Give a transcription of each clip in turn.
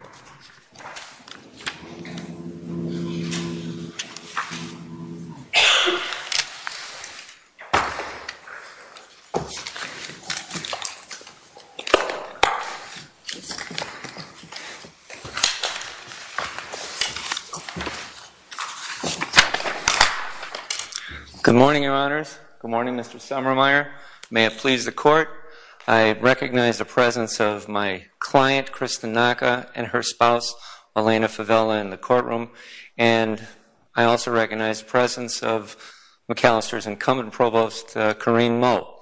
Good morning, Your Honors. Good morning, Mr. Summermeyer. May it please the Court, I recognize the presence of my client, Kristen Naca, and her spouse, Alaina Favella, in the courtroom, and I also recognize the presence of Macalester's incumbent provost, Corinne Moe.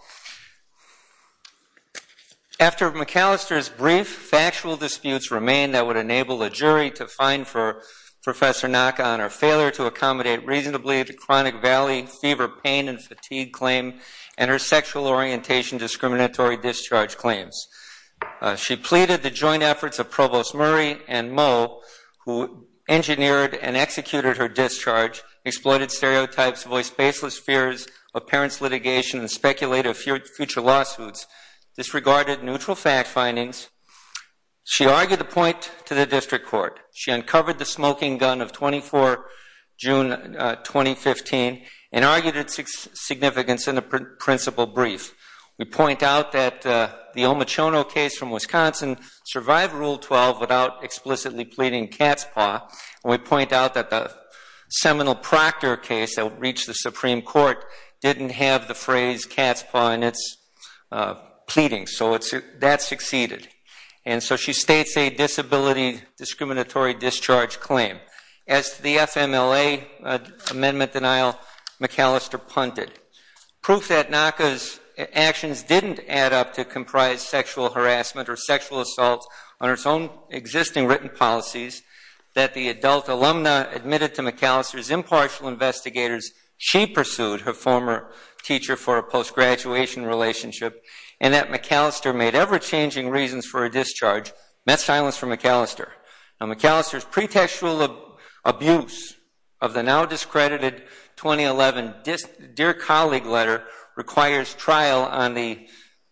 After Macalester's brief factual disputes remain that would enable a jury to find for Professor Naca on her failure to accommodate reasonably the chronic valley fever pain and fatigue claim and her sexual orientation discriminatory discharge claims. She pleaded the joint efforts of Provost Murray and Moe, who engineered and executed her discharge, exploited stereotypes, voiced baseless fears of parents' litigation, and speculated future lawsuits, disregarded neutral fact findings. She argued the point to the district court. She uncovered the smoking gun of 24 June 2015 and argued its significance in the principal brief. We point out that the Omichono case from Wisconsin survived Rule 12 without explicitly pleading cat's paw, and we point out that the Seminole-Proctor case that reached the Supreme Court didn't have the phrase cat's paw in its pleading, so that succeeded. And so she states a disability discriminatory discharge claim. As to the FMLA amendment denial, Macalester punted. Proof that Naca's actions didn't add up to comprise sexual harassment or sexual assault on its own existing written policies that the adult alumna admitted to Macalester's impartial investigators she pursued, her former teacher for a post-graduation relationship, and that Macalester made ever-changing reasons for a discharge, met silence from Macalester. Now Macalester's pretextual abuse of the now discredited 2011 Dear Colleague letter requires trial on the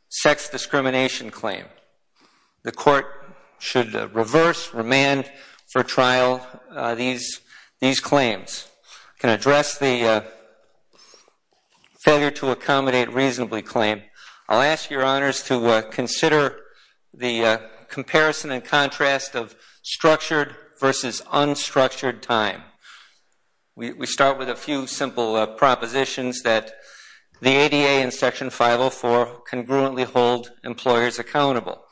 sex discrimination claim. The court should reverse, remand for trial these claims. Can address the failure to accommodate reasonably claim, I'll ask your honors to consider the comparison and contrast of structured versus unstructured time. We start with a few simple propositions that the ADA and Section 504 congruently hold employers accountable.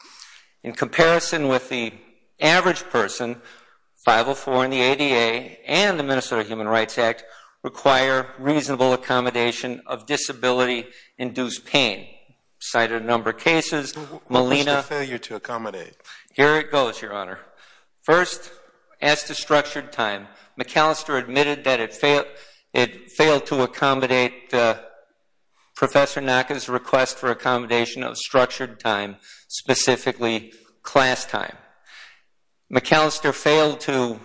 In comparison with the average person, 504 and the ADA and the Minnesota Human Rights Act require reasonable accommodation of disability induced pain. Cited a number of cases, Molina. What's the failure to accommodate? Here it goes, your honor. First, as to structured time, Macalester admitted that it failed to accommodate Professor Naca's request for accommodation of structured time, specifically class time. Macalester failed to...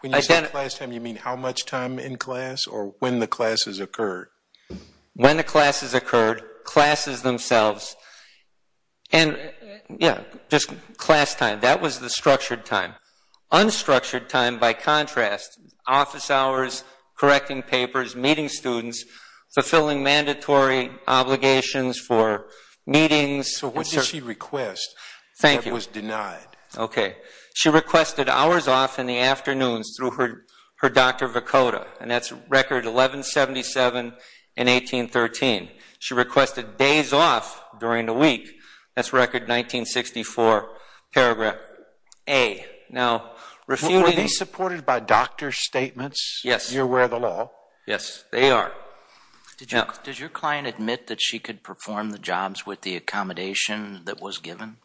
When you say class time, you mean how much time in class or when the classes occurred? When the classes occurred, classes themselves, and yeah, just class time. That was the structured time. Unstructured time, by contrast, office hours, correcting papers, meeting students, fulfilling mandatory obligations for meetings... So what did she request that was denied? Thank you. Okay. She requested hours off in the afternoons through her Dr. Vicoda, and that's record 1177 and 1813. She requested days off during the week. That's record 1964, paragraph A. Now, refuting... Were these supported by doctor's statements? Yes. You're aware of the law? Yes, they are. Did your client admit that she could perform the jobs with the accommodation that was given?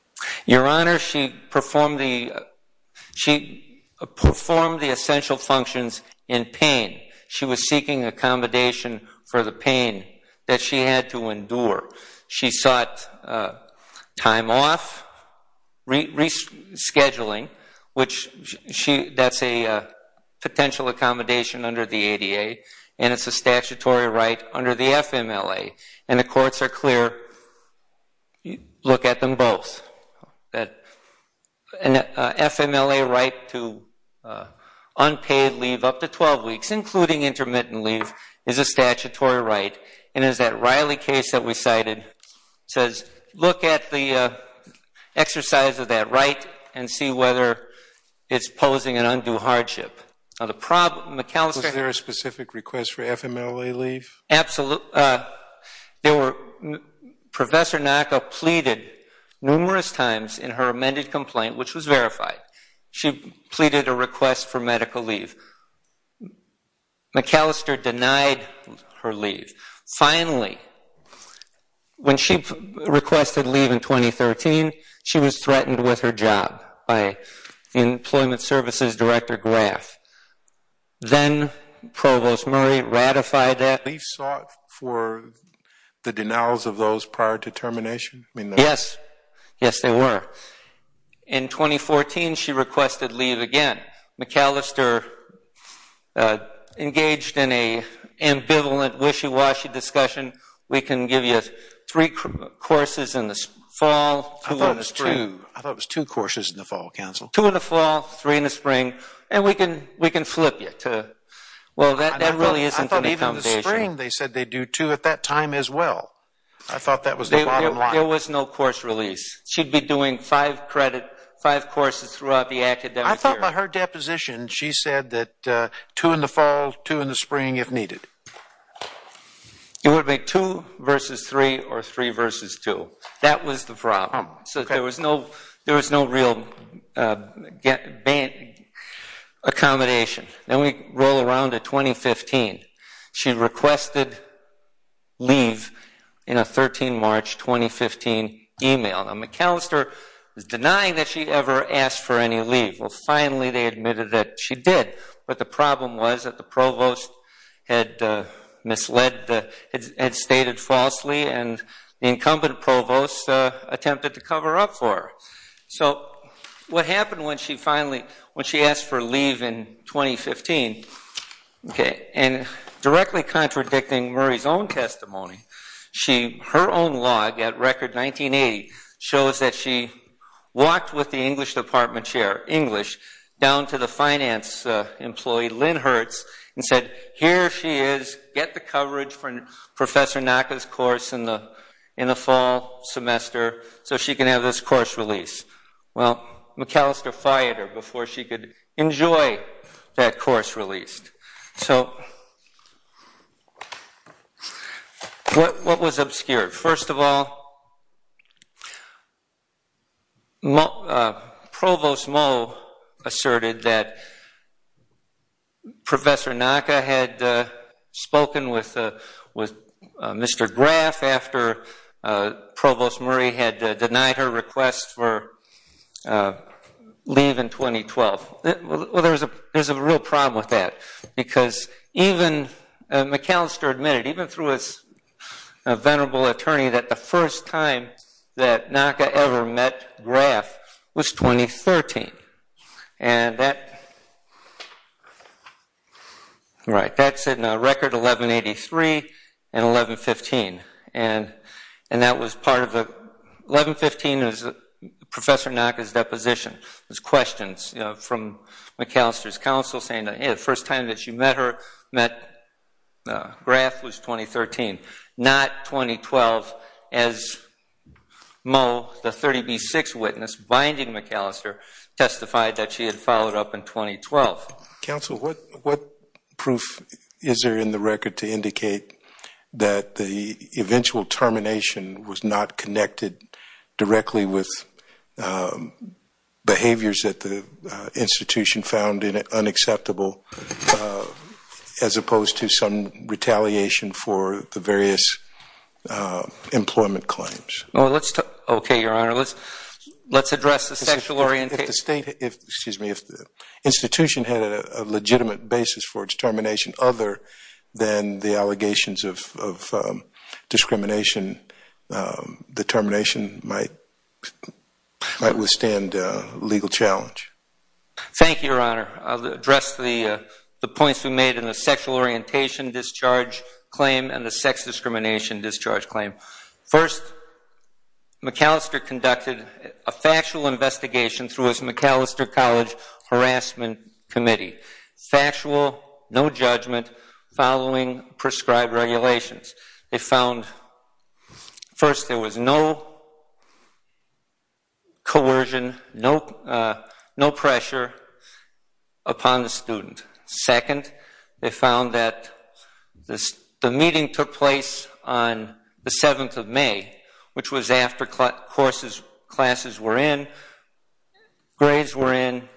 Your Honor, she performed the essential functions in pain. She was seeking accommodation for the pain that she had to endure. She sought time off, rescheduling, which that's a potential accommodation under the ADA, and it's a statutory right under the FMLA, and the courts are clear, look at them both. An FMLA right to unpaid leave up to 12 weeks, including intermittent leave, is a statutory right, and as that Riley case that we cited says, look at the exercise of that right and see whether it's posing an undue hardship. Was there a specific request for FMLA leave? Absolutely. There were... Professor Naka pleaded numerous times in her amended complaint, which was verified. She pleaded a request for medical leave. McAllister denied her leave. Finally, when she requested leave in 2013, she was threatened with her job by Employment Services Director Graf. Then Provost Murray ratified that. Leave sought for the denials of those prior to termination? Yes. Yes, they were. In 2014, she requested leave again. McAllister engaged in an ambivalent wishy-washy discussion. We can give you three courses in the fall, two in the spring... I thought it was two. I thought it was two courses in the fall, counsel. Two in the fall, three in the spring, and we can flip you to... Well, that really isn't an accommodation. I thought even in the spring, they said they'd do two at that time as well. I thought that was the bottom line. There was no course release. She'd be doing five courses throughout the academic year. I thought by her deposition, she said that two in the fall, two in the spring if needed. It would be two versus three or three versus two. That was the problem. So there was no real accommodation. Then we roll around to 2015. She requested leave in a 13 March 2015 email. Now McAllister was denying that she'd ever asked for any leave. Well, finally, they admitted that she did. But the problem was that the provost had misled, had stated falsely, and the incumbent provost attempted to cover up for her. So what happened when she finally, when she asked for leave in 2015, and directly contradicting Murray's own testimony, her own log at record 1980 shows that she walked with the English department chair, English, down to the finance employee, Lynn Hertz, and said, here she is, get the coverage for Professor Naka's course in the fall semester so she can have this course release. Well McAllister fired her before she could enjoy that course released. What was obscured? First of all, Provost Moe asserted that Professor Graff, after Provost Murray had denied her request for leave in 2012. Well, there's a real problem with that. Because even McAllister admitted, even through his venerable attorney, that the first time that Naka ever met Graff was 2013. And that, right, that's in record 1183 and 1115. And that was part of the, 1115 is Professor Naka's deposition. There's questions, you know, from McAllister's counsel saying the first time that she met her, met Graff was 2013, not 2012, as Moe, the 30B6 witness, binding McAllister, testified that she had followed up in 2012. Counsel, what proof is there in the record to indicate that the eventual termination was not connected directly with behaviors that the institution found unacceptable, as opposed to some retaliation for the various employment claims? Well, let's, okay, Your Honor, let's address the sexual orientation. If the state, excuse me, if the institution had a legitimate basis for its termination other than the allegations of discrimination, the termination might withstand legal challenge. Thank you, Your Honor. I'll address the points we made in the sexual orientation discharge claim and the sex discrimination discharge claim. First, McAllister conducted a factual investigation through his McAllister College harassment committee. Factual, no judgment, following prescribed regulations. They found, first, there was no coercion, no pressure upon the student. Second, they found that the meeting took place on the 7th of May, which was after classes were in, grades were in.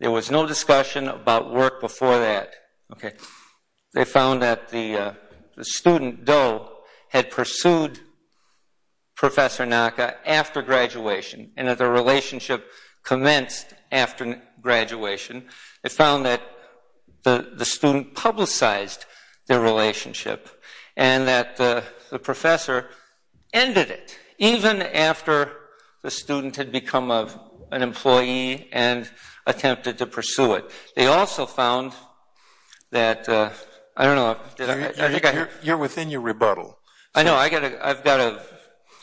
There was no discussion about work before that. They found that the student, Doe, had pursued Professor Naka after graduation and that their relationship commenced after graduation. They found that the student publicized their relationship and that the professor ended it, even after the student had become an employee and attempted to pursue it. They also found that, I don't know, I think I... You're within your rebuttal. I know, I've got to,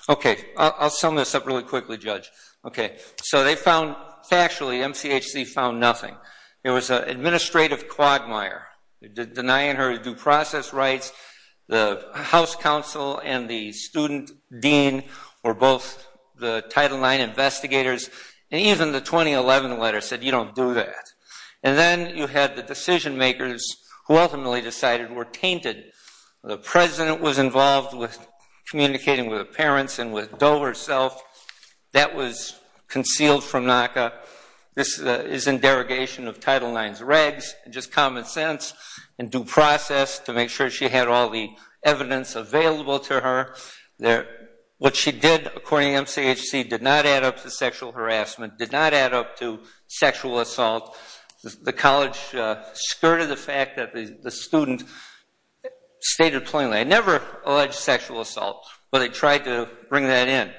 okay, I'll sum this up really quickly, Judge. Okay, so they found, factually, MCHC found nothing. There was an administrative quagmire denying her due process rights. The House Council and the student dean were both the Title IX investigators and even the 2011 letter said, you don't do that. And then you had the decision makers who ultimately decided were tainted. The president was involved with communicating with the parents and with Doe herself. That was concealed from Naka. This is in derogation of Title IX regs and just common sense and due process to make sure she had all the evidence available to her. What she did, according to MCHC, did not add up to sexual harassment, did not add up to sexual assault. The college skirted the fact that the student stated plainly, they never alleged sexual assault, but they tried to bring that in.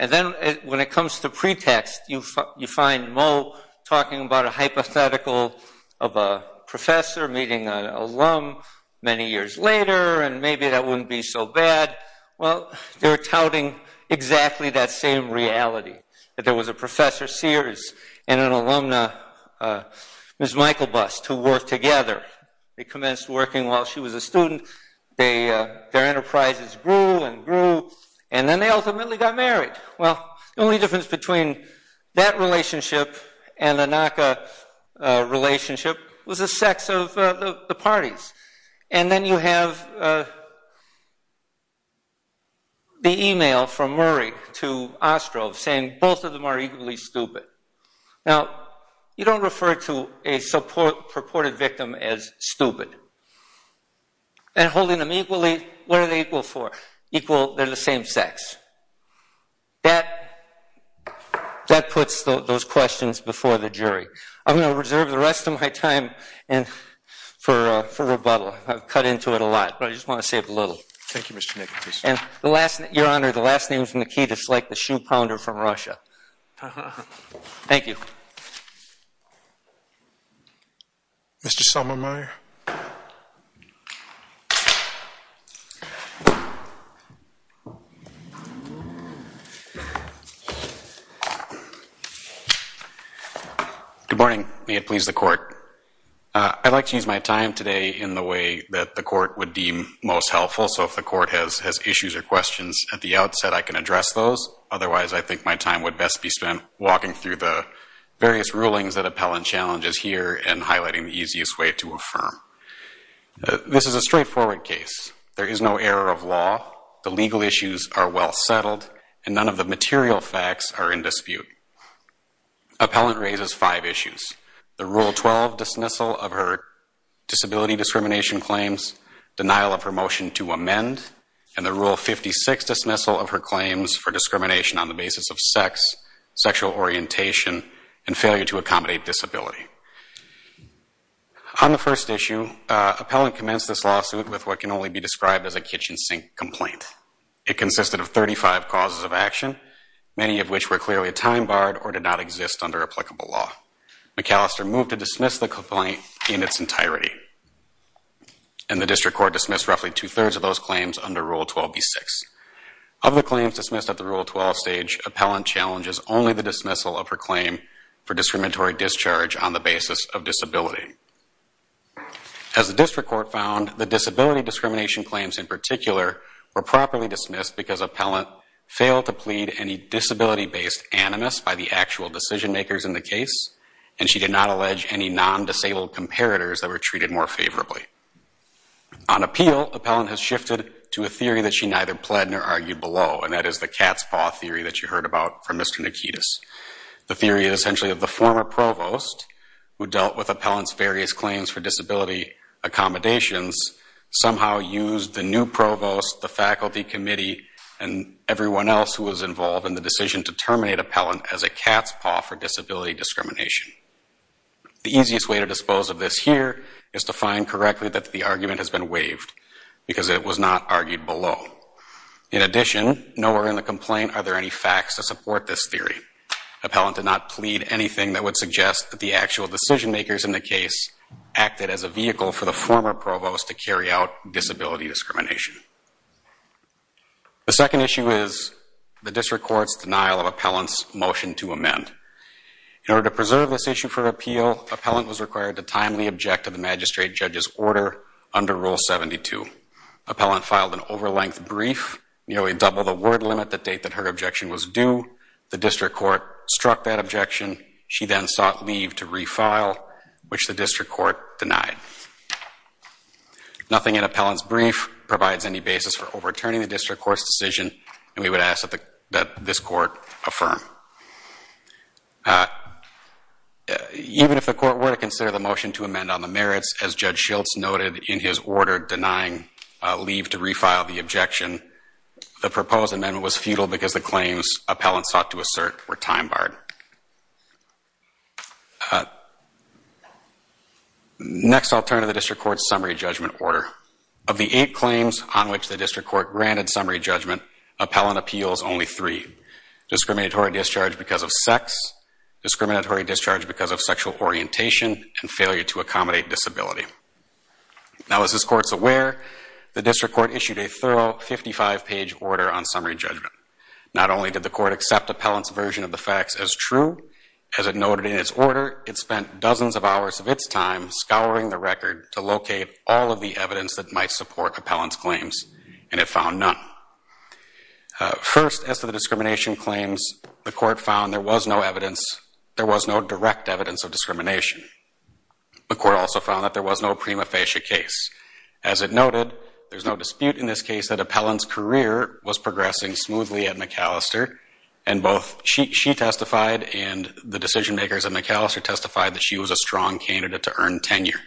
And then when it comes to pretext, you find Moe talking about a hypothetical of a professor meeting an alum many years later and maybe that wouldn't be so bad. Well, they're touting exactly that same reality, that there was a Professor Sears and an alumna, Ms. Michael Bust, who worked together. They had their enterprises grew and grew and then they ultimately got married. Well, the only difference between that relationship and the Naka relationship was the sex of the parties. And then you have the email from Murray to Ostroff saying both of them are equally stupid. Now, you don't refer to a purported victim as stupid. And holding them equally, that what are they equal for? Equal, they're the same sex. That puts those questions before the jury. I'm going to reserve the rest of my time for rebuttal. I've cut into it a lot. But I just want to say it a little. Thank you, Mr. Nicklaus. And the last, your honor, the last name is Nikita, it's like the shoe pounder from Russia. Thank you. Mr. Sommermeyer. Good morning. May it please the court. I'd like to use my time today in the way that the court would deem most helpful. So if the court has issues or questions at the outset, I can address those. Otherwise, I think my time would best be spent walking through the various rulings that appellant challenges here and highlighting the easiest way to affirm. This is a straightforward case. There is no error of law. The legal issues are well settled. And none of the material facts are in dispute. Appellant raises five issues. The Rule 12 dismissal of her disability discrimination claims, denial of her motion to amend, and the Rule 56 dismissal of her claims for discrimination on the basis of sex, sexual orientation, and failure to accommodate disability. On the first issue, appellant commenced this lawsuit with what can only be described as a kitchen sink complaint. It consisted of 35 causes of action, many of which were clearly a time barred or did not exist under applicable law. McAllister moved to dismiss the complaint in its entirety. And the district court dismissed roughly two-thirds of those claims under Rule 12B6. Of the claims dismissed at the Rule 12 stage, appellant challenges only the dismissal of her claim for discriminatory discharge on the basis of disability. As the district court found, the disability discrimination claims in particular were properly dismissed because appellant failed to plead any disability-based animus by the actual decision makers in the case. And she did not allege any non-disabled comparators that were treated more favorably. On appeal, appellant has shifted to a theory that she neither pled nor argued below, and that is the cat's paw theory that you heard about from Mr. Nikitas. The theory is essentially that the former provost, who dealt with appellant's various claims for disability accommodations, somehow used the new provost, the faculty committee, and everyone else who was involved in the decision to terminate appellant as a cat's paw for disability discrimination. The easiest way to dispose of this here is to find correctly that the argument has been waived because it was not argued below. In addition, nowhere in the complaint are there any facts to support this theory. Appellant did not plead anything that would suggest that the actual decision makers in the case acted as a vehicle for the former provost to carry out disability discrimination. The second issue is the district court's denial of appellant's motion to amend. In order to make this issue for appeal, appellant was required to timely object to the magistrate judge's order under Rule 72. Appellant filed an over-length brief, nearly double the word limit the date that her objection was due. The district court struck that objection. She then sought leave to refile, which the district court denied. Nothing in appellant's brief provides any basis for overturning the district court's decision, and we would ask that this court affirm. Even if the court were to consider the motion to amend on the merits, as Judge Schiltz noted in his order denying leave to refile the objection, the proposed amendment was futile because the claims appellant sought to assert were time-barred. Next, I'll turn to the district court's summary judgment order. Of the eight claims on which the district court granted summary judgment, appellant appeals only three, discriminatory discharge because of sex, discriminatory discharge because of sexual orientation, and failure to accommodate disability. Now, as this court's aware, the district court issued a thorough 55-page order on summary judgment. Not only did the court accept appellant's version of the facts as true, as it noted in its order, it spent dozens of hours of its time scouring the record to locate all of the evidence that might support appellant's claims, and it found none. First, as to the discrimination claims, the court found there was no evidence, there was no direct evidence of discrimination. The court also found that there was no prima facie case. As it noted, there's no dispute in this case that appellant's career was progressing smoothly at Macalester, and both she testified and the decision-makers at Macalester testified that she was a strong candidate to earn tenure.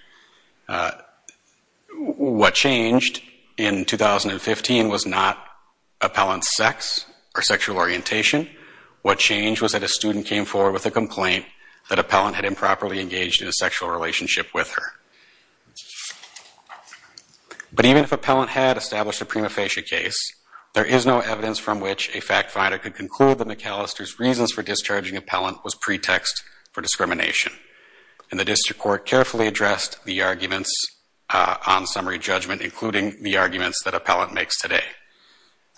What changed in 2015 was not appellant's sex or sexual orientation. What changed was that a student came forward with a complaint that appellant had improperly engaged in a sexual relationship with her. But even if appellant had established a prima facie case, there is no evidence from which a fact finder could conclude that Macalester's reasons for discharging appellant was pretext for discrimination. And the district court carefully addressed the arguments on summary judgment, including the arguments that appellant makes today.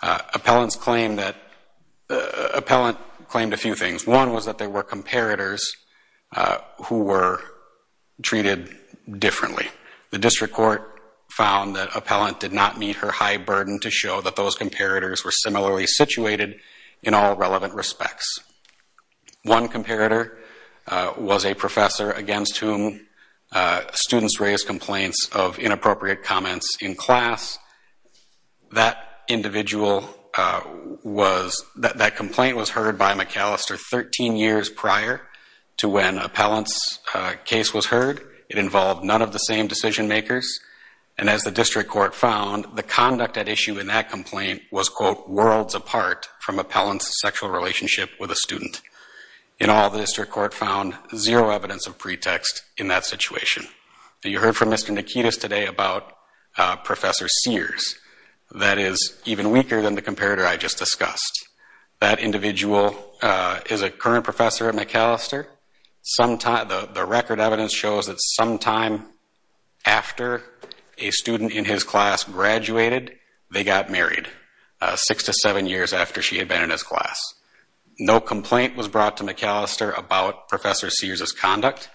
Appellant claimed a few things. One was that there were comparators who were treated differently. The district court found that appellant did not meet her high burden to show that those comparators were similarly a professor against whom students raise complaints of inappropriate comments in class. That individual was, that complaint was heard by Macalester 13 years prior to when appellant's case was heard. It involved none of the same decision-makers. And as the district court found, the conduct at issue in that complaint was, quote, worlds apart from appellant's sexual relationship with a student. In all, the district court found zero evidence of pretext in that situation. You heard from Mr. Nikitas today about Professor Sears. That is even weaker than the comparator I just discussed. That individual is a current professor at Macalester. The record evidence shows that sometime after a student in his class graduated, they got married six to seven years after she had been in his class. No complaint was brought to Macalester about Professor Sears' conduct.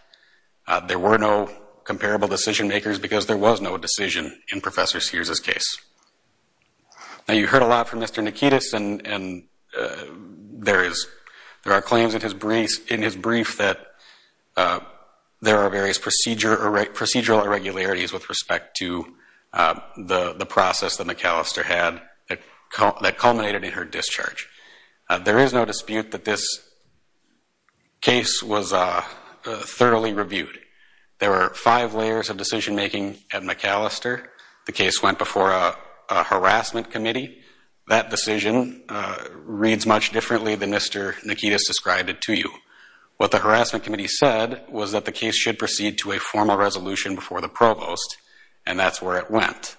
There were no comparable decision-makers because there was no decision in Professor Sears' case. Now you heard a lot from Mr. Nikitas and there are claims in his brief that there are various issues that Macalester had that culminated in her discharge. There is no dispute that this case was thoroughly reviewed. There were five layers of decision-making at Macalester. The case went before a harassment committee. That decision reads much differently than Mr. Nikitas described it to you. What the harassment committee said was that the case should proceed to a formal resolution before the provost and that's where it went.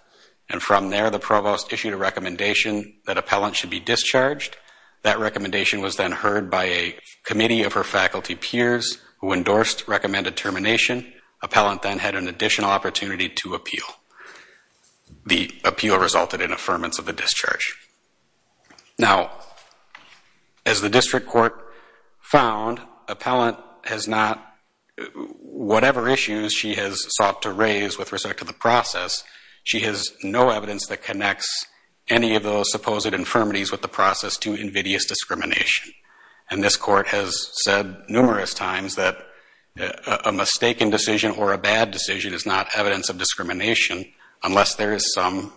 And from there, the provost issued a recommendation that appellant should be discharged. That recommendation was then heard by a committee of her faculty peers who endorsed recommended termination. Appellant then had an additional opportunity to appeal. The appeal resulted in affirmance of the discharge. Now as the district court found, whatever issues she has sought to raise with respect to the process, she has no evidence that connects any of those supposed infirmities with the process to invidious discrimination. And this court has said numerous times that a mistaken decision or a bad decision is not evidence of discrimination unless there is some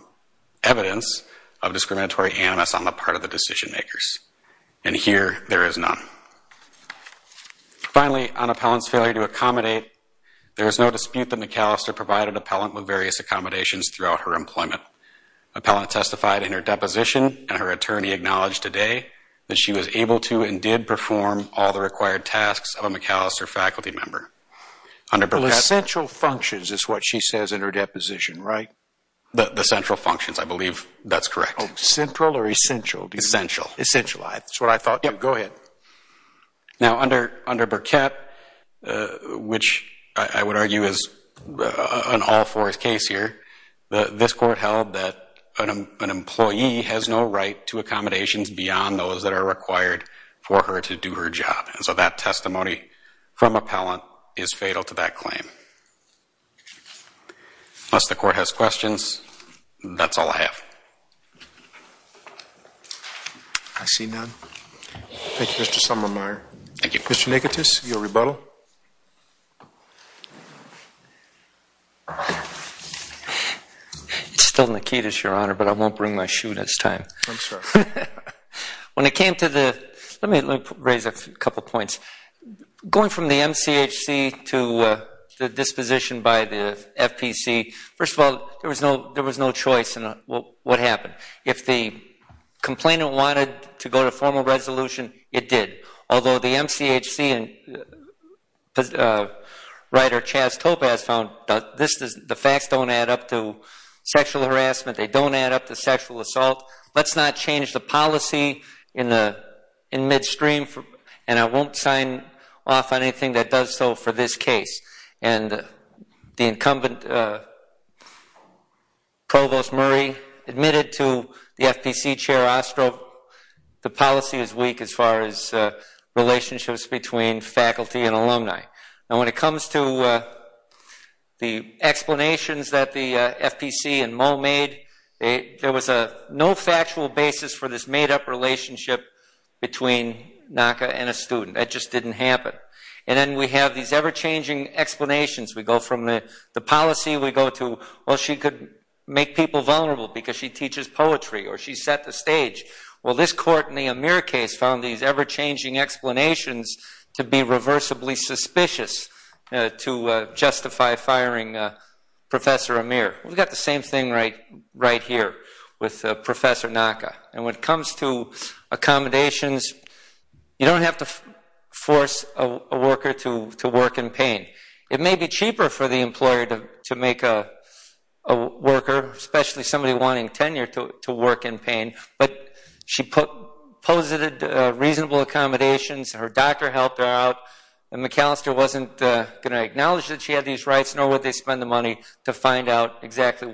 evidence of discriminatory animus on the part of the decision-makers. And here, there is none. Finally on appellant's failure to accommodate, there is no dispute that Macalester provided appellant with various accommodations throughout her employment. Appellant testified in her deposition and her attorney acknowledged today that she was able to and did perform all the required tasks of a Macalester faculty member. Under Burkett. Essential functions is what she says in her deposition, right? The central functions, I believe that's correct. Central or essential? Essential. Essential, that's what I thought. Go ahead. Now, under Burkett, which I would argue is an all for his case here, this court held that an employee has no right to accommodations beyond those that are required for her to do her job. And so that testimony from appellant is fatal to that claim. Unless the court has questions, that's all I have. I see none. Thank you, Mr. Somermeyer. Thank you. Mr. Nikitas, your rebuttal. It's still Nikitas, Your Honor, but I won't bring my shoe this time. I'm sorry. When it came to the, let me raise a couple points. Going from the MCHC to the disposition by the FPC, first of all, there was no choice in what happened. If the complainant wanted to go to formal resolution, it did. Although the MCHC and writer Chas Topaz found the facts don't add up to sexual harassment, they don't add up to sexual assault. Let's not change the policy in midstream and I won't sign off on anything that does so for this case. And the incumbent, Provost Murray, admitted to the FPC Chair Ostroff, the policy is weak as far as relationships between faculty and alumni. And when it comes to the explanations that the FPC and Moe made, there was no factual basis for this made-up relationship between We have these ever-changing explanations. We go from the policy, we go to, well, she could make people vulnerable because she teaches poetry or she set the stage. Well, this court in the Amir case found these ever-changing explanations to be reversibly suspicious to justify firing Professor Amir. We've got the same thing right here with Professor Naka. And when it comes to accommodations, you don't have to force a worker to work in pain. It may be cheaper for the employer to make a worker, especially somebody wanting tenure, to work in pain, but she posited reasonable accommodations, her doctor helped her out, and McAllister wasn't going to acknowledge that she had these rights nor would they spend the money to find out exactly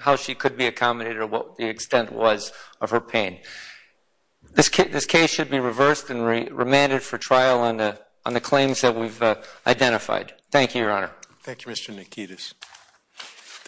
how she could be accommodated or what the extent was of her pain. This case should be reversed and remanded for trial on the claims that we've identified. Thank you, Your Honor.